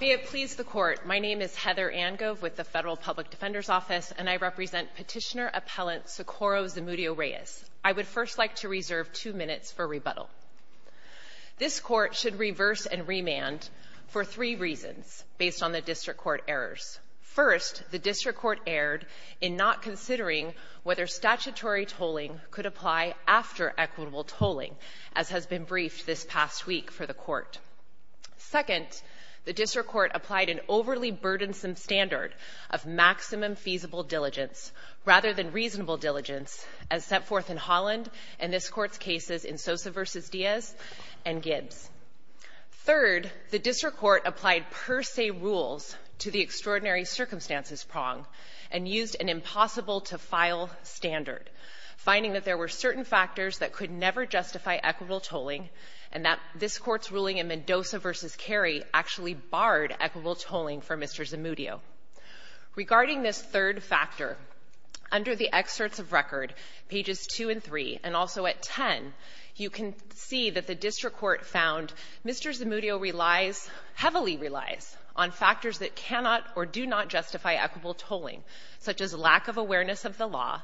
Be it pleased the Court, my name is Heather Angove with the Federal Public Defender's Office, and I represent Petitioner-Appellant Socorro Zamudio-Reyes. I would first like to reserve two minutes for rebuttal. This Court should reverse and remand for three reasons based on the District Court errors. First, the District Court erred in not considering whether statutory tolling could apply after equitable tolling, as has been briefed this past week for the Court. Second, the District Court applied an overly burdensome standard of maximum feasible diligence, rather than reasonable diligence, as set forth in Holland and this Court's cases in Sosa v. Diaz and Gibbs. Third, the District Court applied per se rules to the extraordinary circumstances prong and used an impossible-to-file standard, finding that there were certain factors that could never justify equitable tolling and that this Court's ruling in Mendoza v. Kerry actually barred equitable tolling for Mr. Zamudio. Regarding this third factor, under the excerpts of record, pages 2 and 3, and also at 10, you can see that the District Court found Mr. Zamudio relies, heavily relies, on factors that cannot or do not justify equitable tolling, such as lack of awareness of the law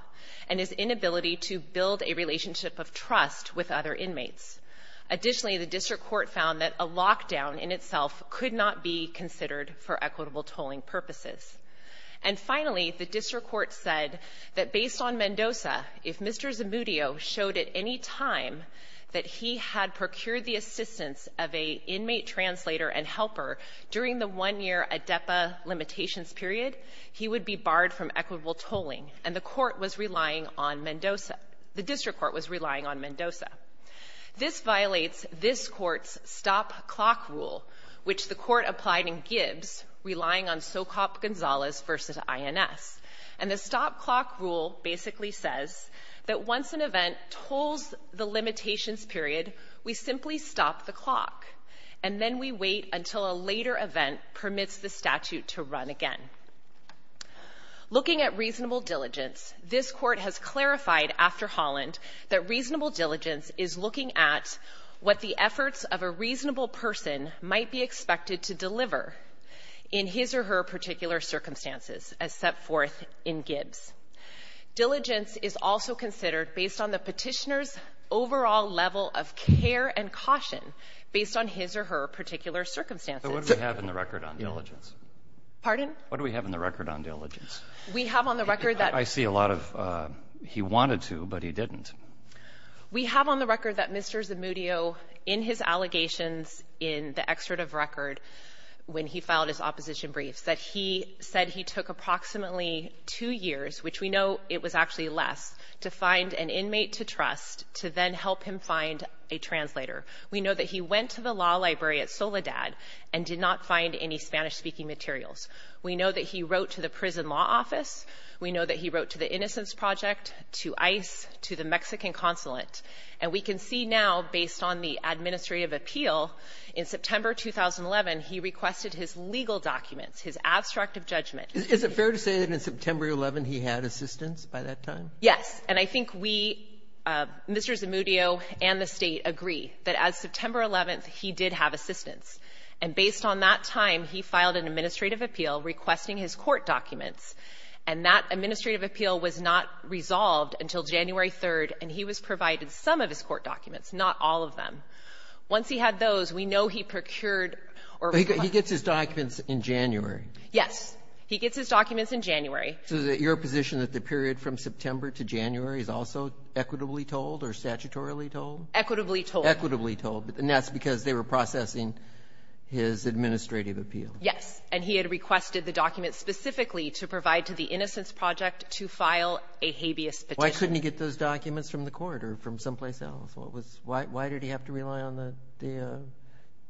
and his inability to build a relationship of trust with other inmates. Additionally, the District Court found that a lockdown in itself could not be considered for equitable tolling purposes. And finally, the District Court said that, based on Mendoza, if Mr. Zamudio showed at any time that he had procured the assistance of an inmate translator and helper during the one-year ADEPA limitations period, he would be barred from equitable tolling, and the Court was relying on Mendoza. The District Court was relying on Mendoza. This violates this Court's stop-clock rule, which the Court applied in Gibbs, relying on Socop-Gonzalez v. INS. And the stop-clock rule basically says that once an event tolls the limitations period, we simply stop the clock, and then we wait until a later event permits the statute to run again. Looking at reasonable diligence, this Court has clarified after Holland that reasonable diligence is looking at what the efforts of a reasonable person might be expected to deliver in his or her particular circumstances, as set forth in Gibbs. Diligence is also considered based on the Petitioner's overall level of care and caution based on his or her particular circumstances. But what do we have in the record on diligence? Pardon? What do we have in the record on diligence? We have on the record that Mr. Zamudio, in his allegations in the excerpt of record when he filed his opposition briefs, that he said he took approximately two years, which we know it was actually less, to find an inmate to trust to then help him find a translator. We know that he went to the law library at Soledad and did not find any Spanish-speaking materials. We know that he wrote to the prison law office. We know that he wrote to the Innocence Project, to ICE, to the Mexican Consulate. And we can see now, based on the administrative appeal, in September 2011, he requested his legal documents, his abstract of judgment. Is it fair to say that in September 11th, he had assistance by that time? Yes. And I think we, Mr. Zamudio and the State, agree that as September 11th, he did have And based on that time, he filed an administrative appeal requesting his court documents. And that administrative appeal was not resolved until January 3rd, and he was provided some of his court documents, not all of them. Once he had those, we know he procured or requested his documents in January. Yes. He gets his documents in January. So is it your position that the period from September to January is also equitably told or statutorily told? Equitably told. Equitably told. And that's because they were processing his administrative appeal. Yes. And he had requested the documents specifically to provide to the Innocence Project to file a habeas petition. Why couldn't he get those documents from the court or from someplace else? Why did he have to rely on the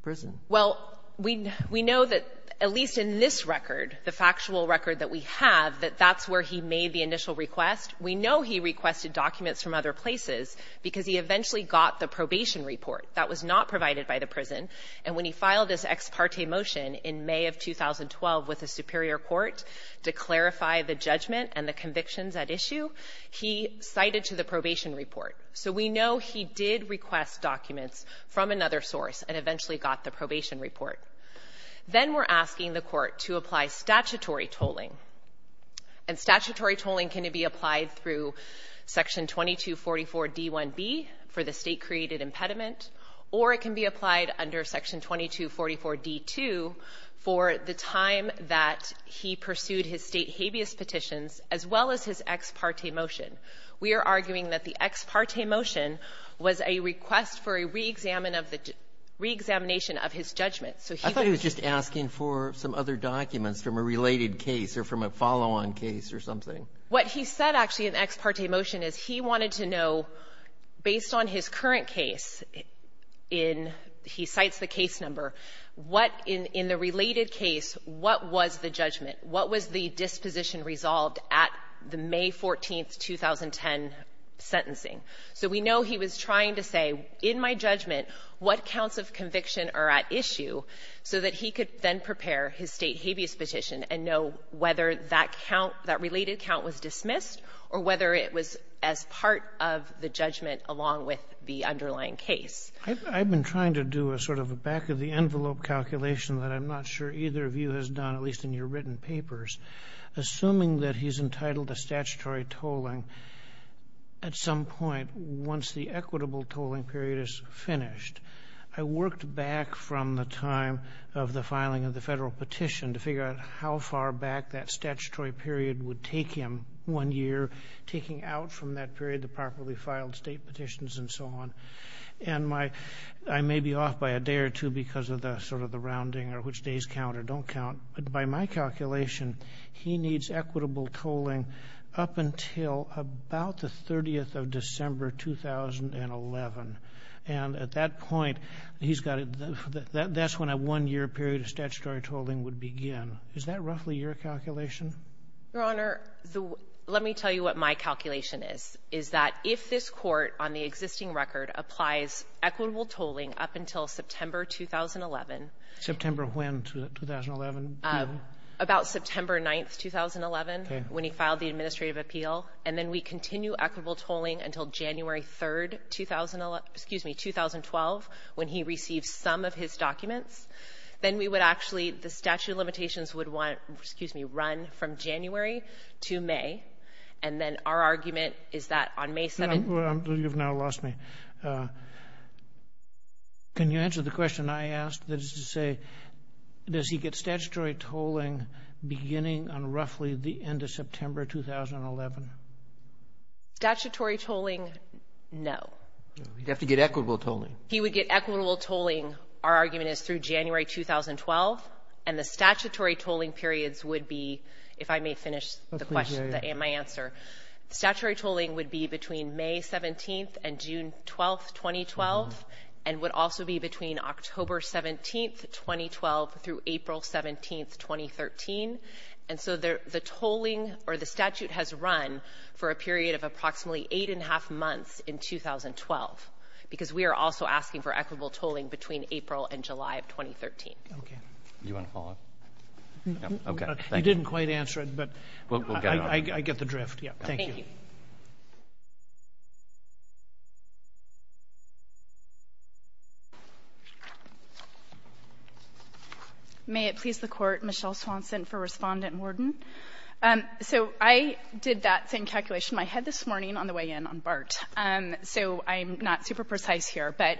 prison? Well, we know that, at least in this record, the factual record that we have, that that's where he made the initial request. We know he requested documents from other places because he eventually got the probation report. That was not provided by the prison. And when he filed his ex parte motion in May of 2012 with the superior court to clarify the judgment and the convictions at issue, he cited to the probation report. So we know he did request documents from another source and eventually got the probation report. Then we're asking the court to apply statutory tolling. And statutory tolling can be applied through Section 2244d1b for the State-created impediment, or it can be applied under Section 2244d2 for the time that he pursued his State habeas petitions as well as his ex parte motion. We are arguing that the ex parte motion was a request for a reexamination of his judgment. So he was just asking for some other documents from a related case or from a related case or from a follow-on case or something. What he said, actually, in the ex parte motion is he wanted to know, based on his current case, in he cites the case number, what in the related case, what was the judgment? What was the disposition resolved at the May 14, 2010 sentencing? So we know he was trying to say, in my judgment, what counts of conviction are at issue, so that he could then prepare his State habeas petition and know whether that count, that related count was dismissed or whether it was as part of the judgment along with the underlying case. I've been trying to do a sort of a back-of-the-envelope calculation that I'm not sure either of you has done, at least in your written papers, assuming that he's entitled to statutory tolling at some point once the equitable tolling period is finished. I worked back from the time of the filing of the Federal petition to figure out how far back that statutory period would take him one year, taking out from that period the properly filed State petitions and so on. And I may be off by a day or two because of the sort of the rounding or which days count or don't count, but by my calculation, he needs equitable tolling up until about the 30th of December, 2011. And at that point, he's got to do that. That's when a one-year period of statutory tolling would begin. Is that roughly your calculation? Your Honor, let me tell you what my calculation is, is that if this Court on the existing record applies equitable tolling up until September, 2011. September when? 2011? About September 9th, 2011, when he filed the administrative appeal. And then we continue equitable tolling until January 3rd, 2012, when he received some of his documents. Then we would actually, the statute of limitations would run from January to May. And then our argument is that on May 7th... You've now lost me. Can you answer the question I asked, that is to say, does he get statutory tolling beginning on roughly the end of September, 2011? Statutory tolling, no. He'd have to get equitable tolling. He would get equitable tolling, our argument is, through January, 2012. And the statutory tolling periods would be, if I may finish the question, my answer. Statutory tolling would be between May 17th and June 12th, 2012, and would also be between October 17th, 2012, through April 17th, 2013. And so the tolling or the statute has run for a period of approximately eight and a half months in 2012, because we are also asking for equitable tolling between April and July of 2013. Okay. Do you want to follow up? Okay. You didn't quite answer it, but I get the drift. Thank you. Thank you. May it please the Court, Michelle Swanson for Respondent Morden. So I did that same calculation in my head this morning on the way in on BART, so I'm not super precise here. But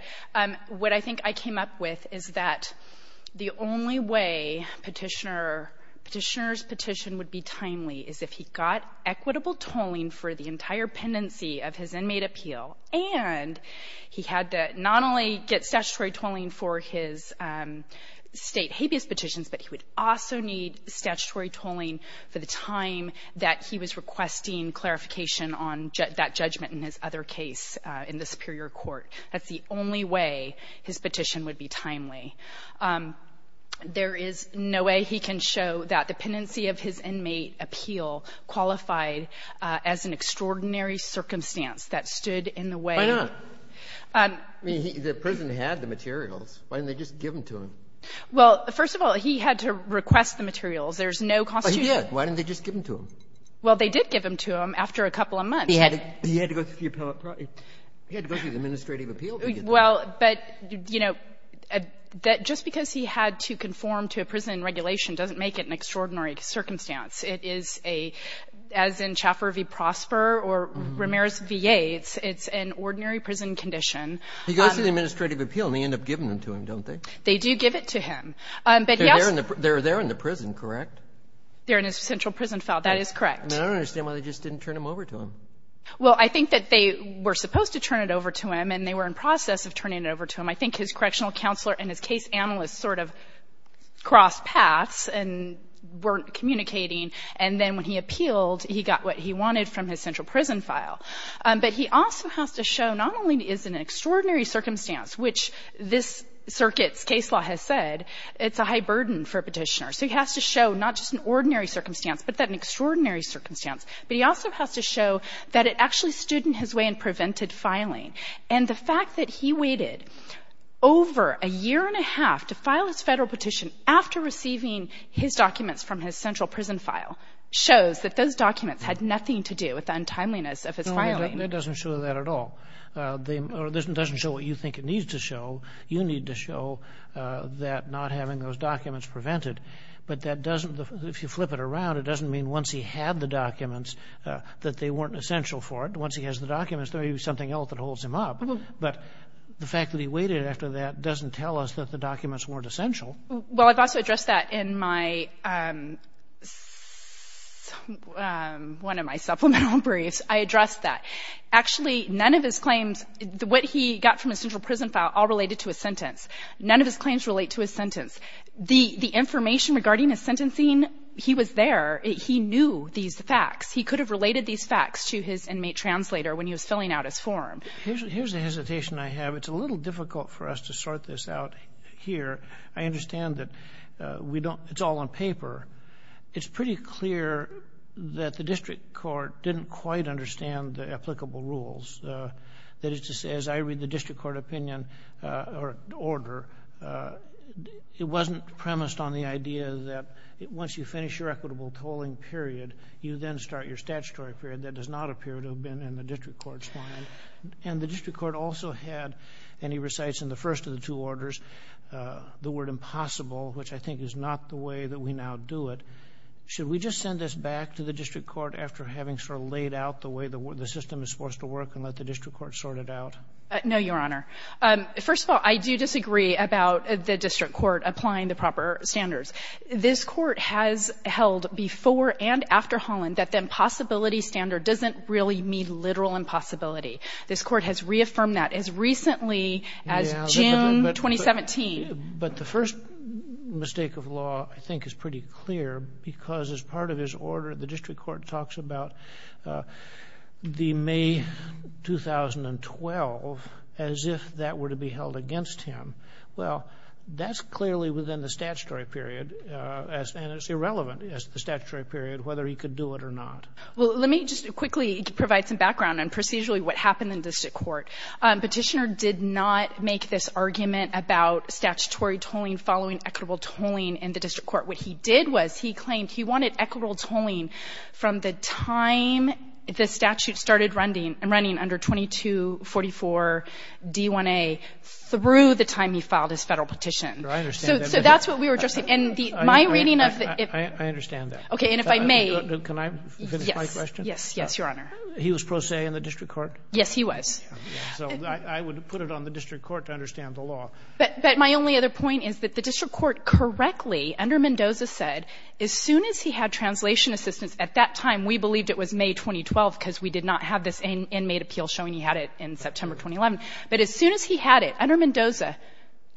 what I think I came up with is that the only way Petitioner's petition would be timely is if he got equitable tolling for the entire pendency of his inmate appeal and he had to not only get statutory tolling for his state habeas petitions, but he would also need statutory tolling for the time that he was requesting clarification on that judgment in his other case in the Superior Court. That's the only way his petition would be timely. There is no way he can show that the pendency of his inmate appeal qualified as an inmate appeal in the way of the statute. Why not? I mean, the prison had the materials. Why didn't they just give them to him? Well, first of all, he had to request the materials. There's no constitution. But he did. Why didn't they just give them to him? Well, they did give them to him after a couple of months. He had to go through the appellate process. He had to go through the administrative appeal to get them. Well, but, you know, just because he had to conform to a prison regulation doesn't make it an extraordinary circumstance. It is a, as in Chaffer v. Prosper or Ramirez v. Yates, it's an ordinary prison condition. He goes through the administrative appeal, and they end up giving them to him, don't they? They do give it to him. But, yes. They're there in the prison, correct? They're in his central prison file. That is correct. I don't understand why they just didn't turn them over to him. Well, I think that they were supposed to turn it over to him, and they were in process of turning it over to him. I think his correctional counselor and his case analyst sort of crossed paths and weren't communicating, and then when he appealed, he got what he wanted from his central prison file. But he also has to show not only is it an extraordinary circumstance, which this circuit's case law has said, it's a high burden for a petitioner. So he has to show not just an ordinary circumstance, but that an extraordinary circumstance, but he also has to show that it actually stood in his way and prevented filing. And the fact that he waited over a year and a half to file his Federal petition after receiving his documents from his central prison file shows that those documents had nothing to do with the untimeliness of his filing. No, that doesn't show that at all. It doesn't show what you think it needs to show. You need to show that not having those documents prevented. But that doesn't, if you flip it around, it doesn't mean once he had the documents that they weren't essential for it. Once he has the documents, there may be something else that holds him up. But the fact that he waited after that doesn't tell us that the documents weren't essential. Well, I've also addressed that in my, one of my supplemental briefs. I addressed that. Actually, none of his claims, what he got from his central prison file all related to his sentence. None of his claims relate to his sentence. The information regarding his sentencing, he was there. He knew these facts. He could have related these facts to his inmate translator when he was filling out his form. Here's a hesitation I have. It's a little difficult for us to sort this out here. I understand that we don't, it's all on paper. It's pretty clear that the district court didn't quite understand the applicable rules. That is to say, as I read the district court opinion or order, it wasn't premised on the idea that once you finish your equitable tolling period, you then start your statutory period. That does not appear to have been in the district court's mind. And the district court also had, and he recites in the first of the two the word impossible, which I think is not the way that we now do it. Should we just send this back to the district court after having sort of laid out the way the system is supposed to work and let the district court sort it out? No, Your Honor. First of all, I do disagree about the district court applying the proper standards. This court has held before and after Holland that the impossibility standard doesn't really mean literal impossibility. This court has reaffirmed that as recently as June 2017. But the first mistake of law, I think, is pretty clear, because as part of his order, the district court talks about the May 2012 as if that were to be held against him. Well, that's clearly within the statutory period, and it's irrelevant as to the statutory period, whether he could do it or not. Well, let me just quickly provide some background on procedurally what happened in district court. Petitioner did not make this argument about statutory tolling following equitable tolling in the district court. What he did was he claimed he wanted equitable tolling from the time the statute started running under 2244-D1A through the time he filed his federal petition. I understand that. So that's what we were addressing. I understand that. Okay, and if I may. Can I finish my question? Yes, Your Honor. He was pro se in the district court? Yes, he was. So I would put it on the district court to understand the law. But my only other point is that the district court correctly, under Mendoza, said as soon as he had translation assistance, at that time we believed it was May 2012, because we did not have this inmate appeal showing he had it in September 2011. But as soon as he had it, under Mendoza,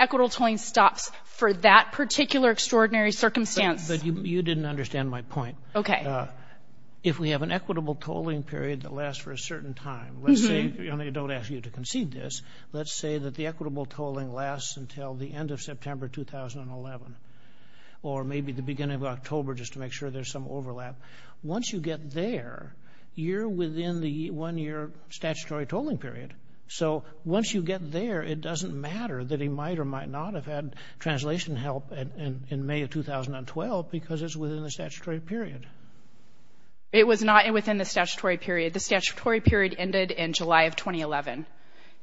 equitable tolling stops for that particular extraordinary circumstance. But you didn't understand my point. Okay. If we have an equitable tolling period that lasts for a certain time, let's say, and I don't ask you to concede this, let's say that the equitable tolling lasts until the end of September 2011 or maybe the beginning of October just to make sure there's some overlap. Once you get there, you're within the one-year statutory tolling period. So once you get there, it doesn't matter that he might or might not have had translation help in May of 2012 because it's within the statutory period. It was not within the statutory period. The statutory period ended in July of 2011.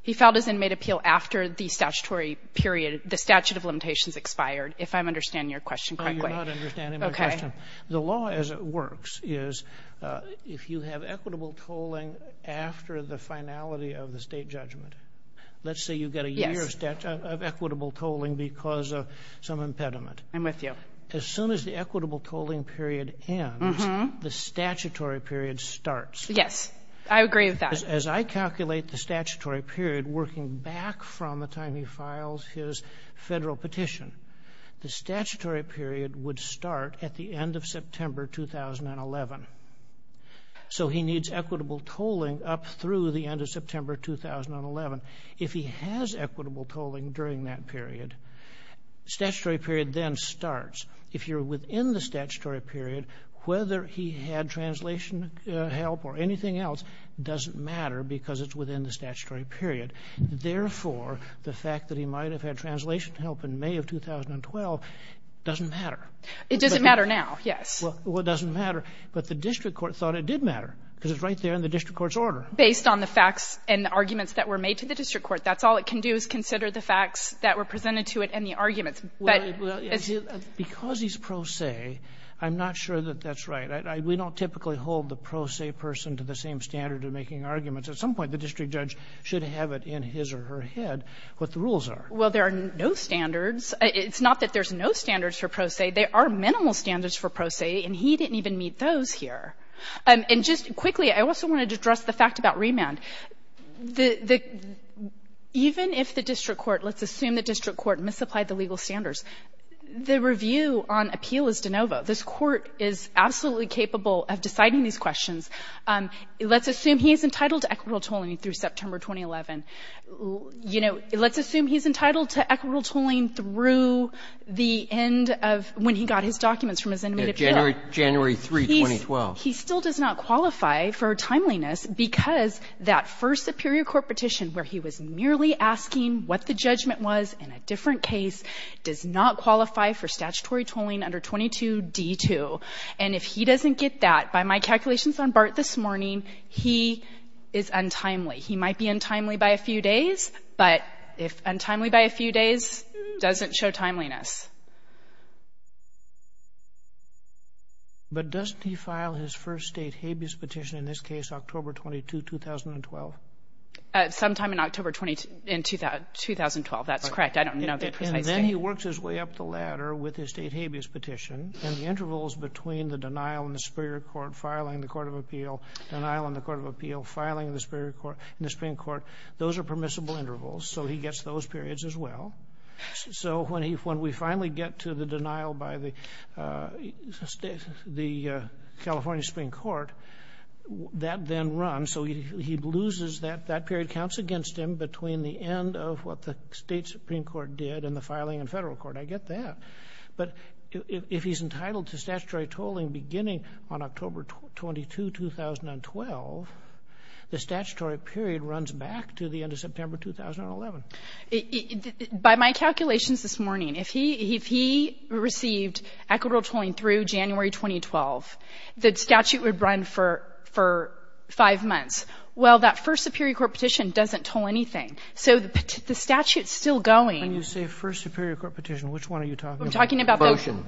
He filed his inmate appeal after the statutory period, the statute of limitations expired, if I'm understanding your question correctly. No, you're not understanding my question. The law as it works is if you have equitable tolling after the finality of the State judgment, let's say you get a year of equitable tolling because of some impediment. I'm with you. As soon as the equitable tolling period ends, the statutory period starts. Yes, I agree with that. As I calculate the statutory period working back from the time he files his federal petition, the statutory period would start at the end of September 2011. So he needs equitable tolling up through the end of September 2011. If he has equitable tolling during that period, statutory period then starts. If you're within the statutory period, whether he had translation help or anything else doesn't matter because it's within the statutory period. Therefore, the fact that he might have had translation help in May of 2012 doesn't matter. It doesn't matter now, yes. Well, it doesn't matter. But the district court thought it did matter because it's right there in the district court's order. Based on the facts and arguments that were made to the district court. That's all it can do is consider the facts that were presented to it and the arguments. Because he's pro se, I'm not sure that that's right. We don't typically hold the pro se person to the same standard of making arguments. At some point, the district judge should have it in his or her head what the rules are. Well, there are no standards. It's not that there's no standards for pro se. There are minimal standards for pro se, and he didn't even meet those here. And just quickly, I also wanted to address the fact about remand. Even if the district court, let's assume the district court misapplied the legal standards the review on appeal is de novo. This court is absolutely capable of deciding these questions. Let's assume he's entitled to equitable tolling through September 2011. Let's assume he's entitled to equitable tolling through the end of when he got his documents from his inmate appeal. January 3, 2012. He still does not qualify for timeliness because that first superior court petition where he was merely asking what the judgment was in a different case does not qualify for statutory tolling under 22D2. And if he doesn't get that, by my calculations on BART this morning, he is untimely. He might be untimely by a few days, but if untimely by a few days, doesn't show timeliness. But doesn't he file his first state habeas petition in this case, October 22, 2012? Sometime in October 20... in 2012. That's correct. I don't know the precise date. And then he works his way up the ladder with his state habeas petition. And the intervals between the denial in the superior court, filing the court of appeal, denial in the court of appeal, filing in the superior court, in the Supreme Court, those are permissible intervals. So he gets those periods as well. So when we finally get to the denial by the California Supreme Court, that then runs. So he loses that. That period counts against him between the end of what the state Supreme Court did and the filing in federal court. I get that. But if he's entitled to statutory tolling beginning on October 22, 2012, the statutory period runs back to the end of September 2011. By my calculations this morning, if he received equitable tolling through January 2012, the statute would run for five months. Well, that first superior court petition doesn't toll anything. So the statute's still going. When you say first superior court petition, which one are you talking about? I'm talking about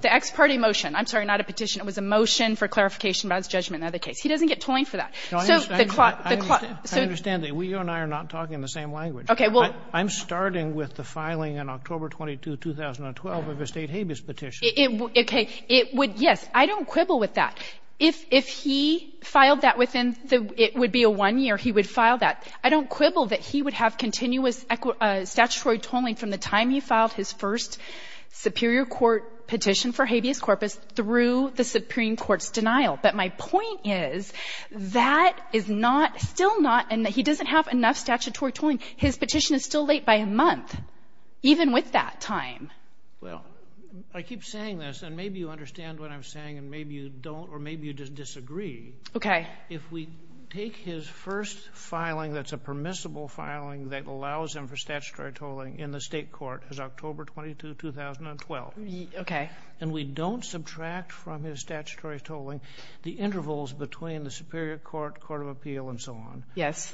the ex parte motion. I'm sorry, not a petition. It was a motion for clarification about his judgment in the other case. He doesn't get tolling for that. I understand that. We and I are not talking in the same language. Okay, well. I'm starting with the filing on October 22, 2012 of a state habeas petition. Okay. It would, yes. I don't quibble with that. If he filed that within the, it would be a one year he would file that. I don't quibble that he would have continuous statutory tolling from the time he filed his first superior court petition for habeas corpus through the Supreme Court's denial. But my point is, that is not, still not, and he doesn't have enough statutory tolling. His petition is still late by a month, even with that time. Well, I keep saying this, and maybe you understand what I'm saying and maybe you don't or maybe you just disagree. Okay. If we take his first filing that's a permissible filing that allows him for statutory tolling in the state court as October 22, 2012. Okay. And we don't subtract from his statutory tolling the intervals between the superior court, court of appeal and so on. Yes.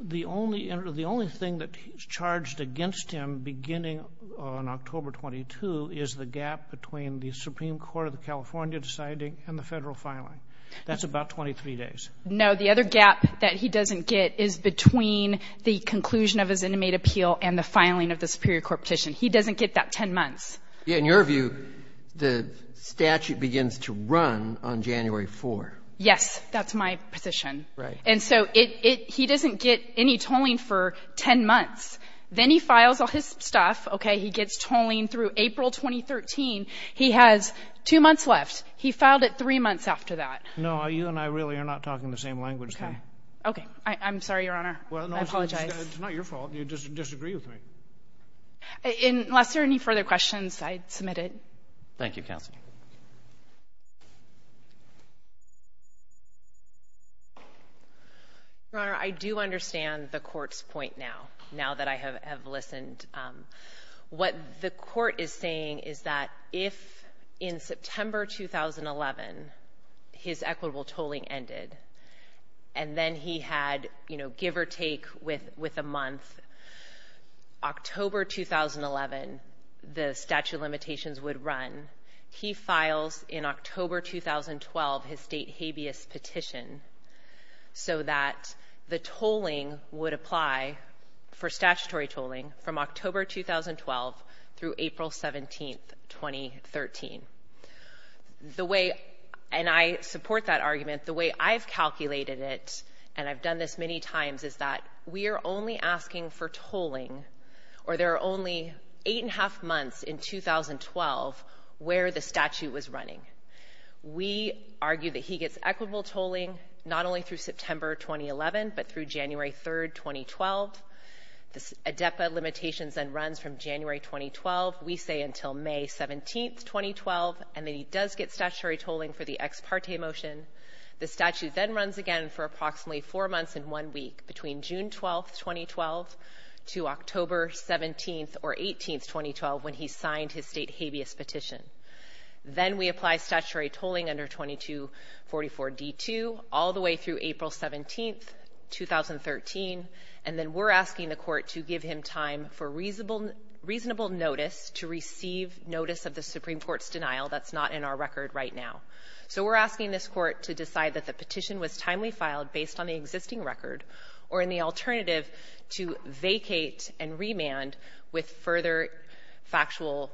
The only thing that is charged against him beginning on October 22 is the gap between the Supreme Court of the California deciding and the federal filing. That's about 23 days. No. The other gap that he doesn't get is between the conclusion of his intimate appeal and the filing of the superior court petition. He doesn't get that 10 months. Yeah. In your view, the statute begins to run on January 4. Yes. That's my position. Right. And so he doesn't get any tolling for 10 months. Then he files all his stuff. Okay. He gets tolling through April 2013. He has two months left. He filed it three months after that. No. You and I really are not talking the same language. Okay. Okay. I'm sorry, Your Honor. I apologize. It's not your fault. You disagree with me. Unless there are any further questions, I submit it. Thank you, counsel. Your Honor, I do understand the court's point now, now that I have listened. What the court is saying is that if in September 2011 the Supreme Court decided that when his equitable tolling ended and then he had, you know, give or take with a month, October 2011 the statute of limitations would run. He files in October 2012 his state habeas petition so that the tolling would apply for statutory tolling from October 2012 through April 17, 2013. The way I understand that and I support that argument, the way I've calculated it and I've done this many times is that we are only asking for tolling or there are only eight and a half months in 2012 where the statute was running. We argue that he gets equitable tolling not only through the ex parte motion the statute then runs again for approximately four months and one week between June 12, 2012 to October 17 or 18, 2012 when he signed his state habeas petition. Then we apply statutory tolling under 2244 D2 all the time. So we're asking this court to decide that the petition was timely filed based on the existing record or in alternative to vacate and remand with further factual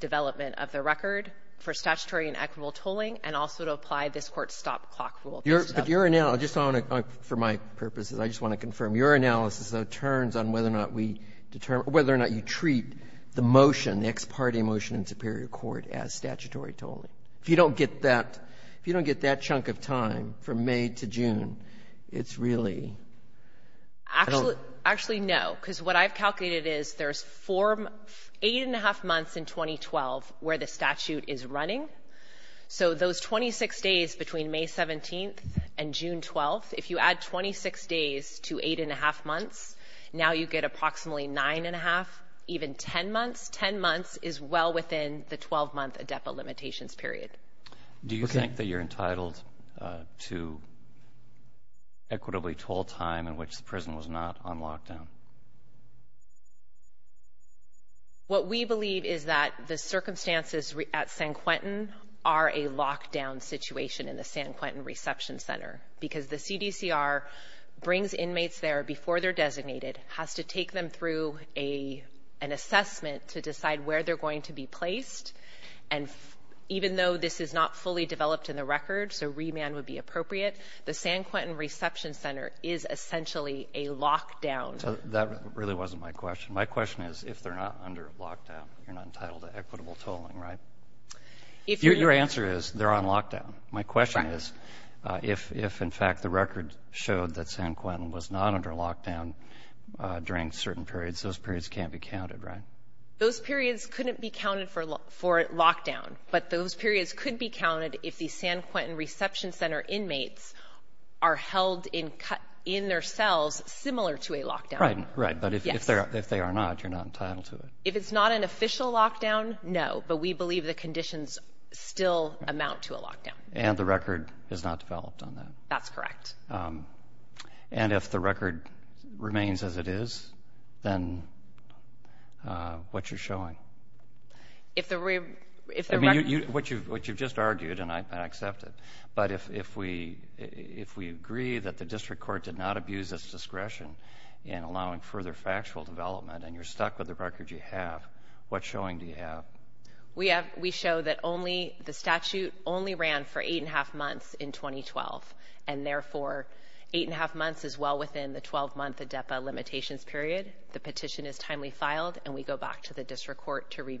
development of the record for statutory and equitable tolling and also to apply this court's stop clock rule. But your analysis for my purposes I just want to confirm your analysis on whether or not you treat the motion the ex parte motion in Superior Court as statutory tolling. If you don't get that chunk of time from May to June you're entitled to six days between May 17th and June 12th. If you add 26 days to eight and a half months now you get approximately nine and a half even 10 months. 10 months is well within the 12 month adepa limitations period. Do you think that you're entitled to equitably toll time in which the prison was not on lockdown? What we believe is that the circumstances at San Quentin are a lockdown situation in the San Quentin reception center because the CDCR brings up Quentin reception center. Even though this is not fully developed in the record so remand would be appropriate the San Quentin reception center is essentially a lockdown. That really wasn't my question. My question is if the San Quentin reception center inmates are held in their cells similar to a lockdown. If it's not an official lockdown we believe the conditions still amount to a lockdown. And if the record remains as it is then what you're showing? What you've just argued and I accept it but if we agree that the district court did not abuse its discretion in allowing further factual development and you're stuck with the record you have what showing do you have? We have we show that only the statute only ran for eight and a half months in 2012. And therefore eight and a half months is well within the 12 month limitations period. The petition is timely filed and we go back to the district court to court has to say. Thank you.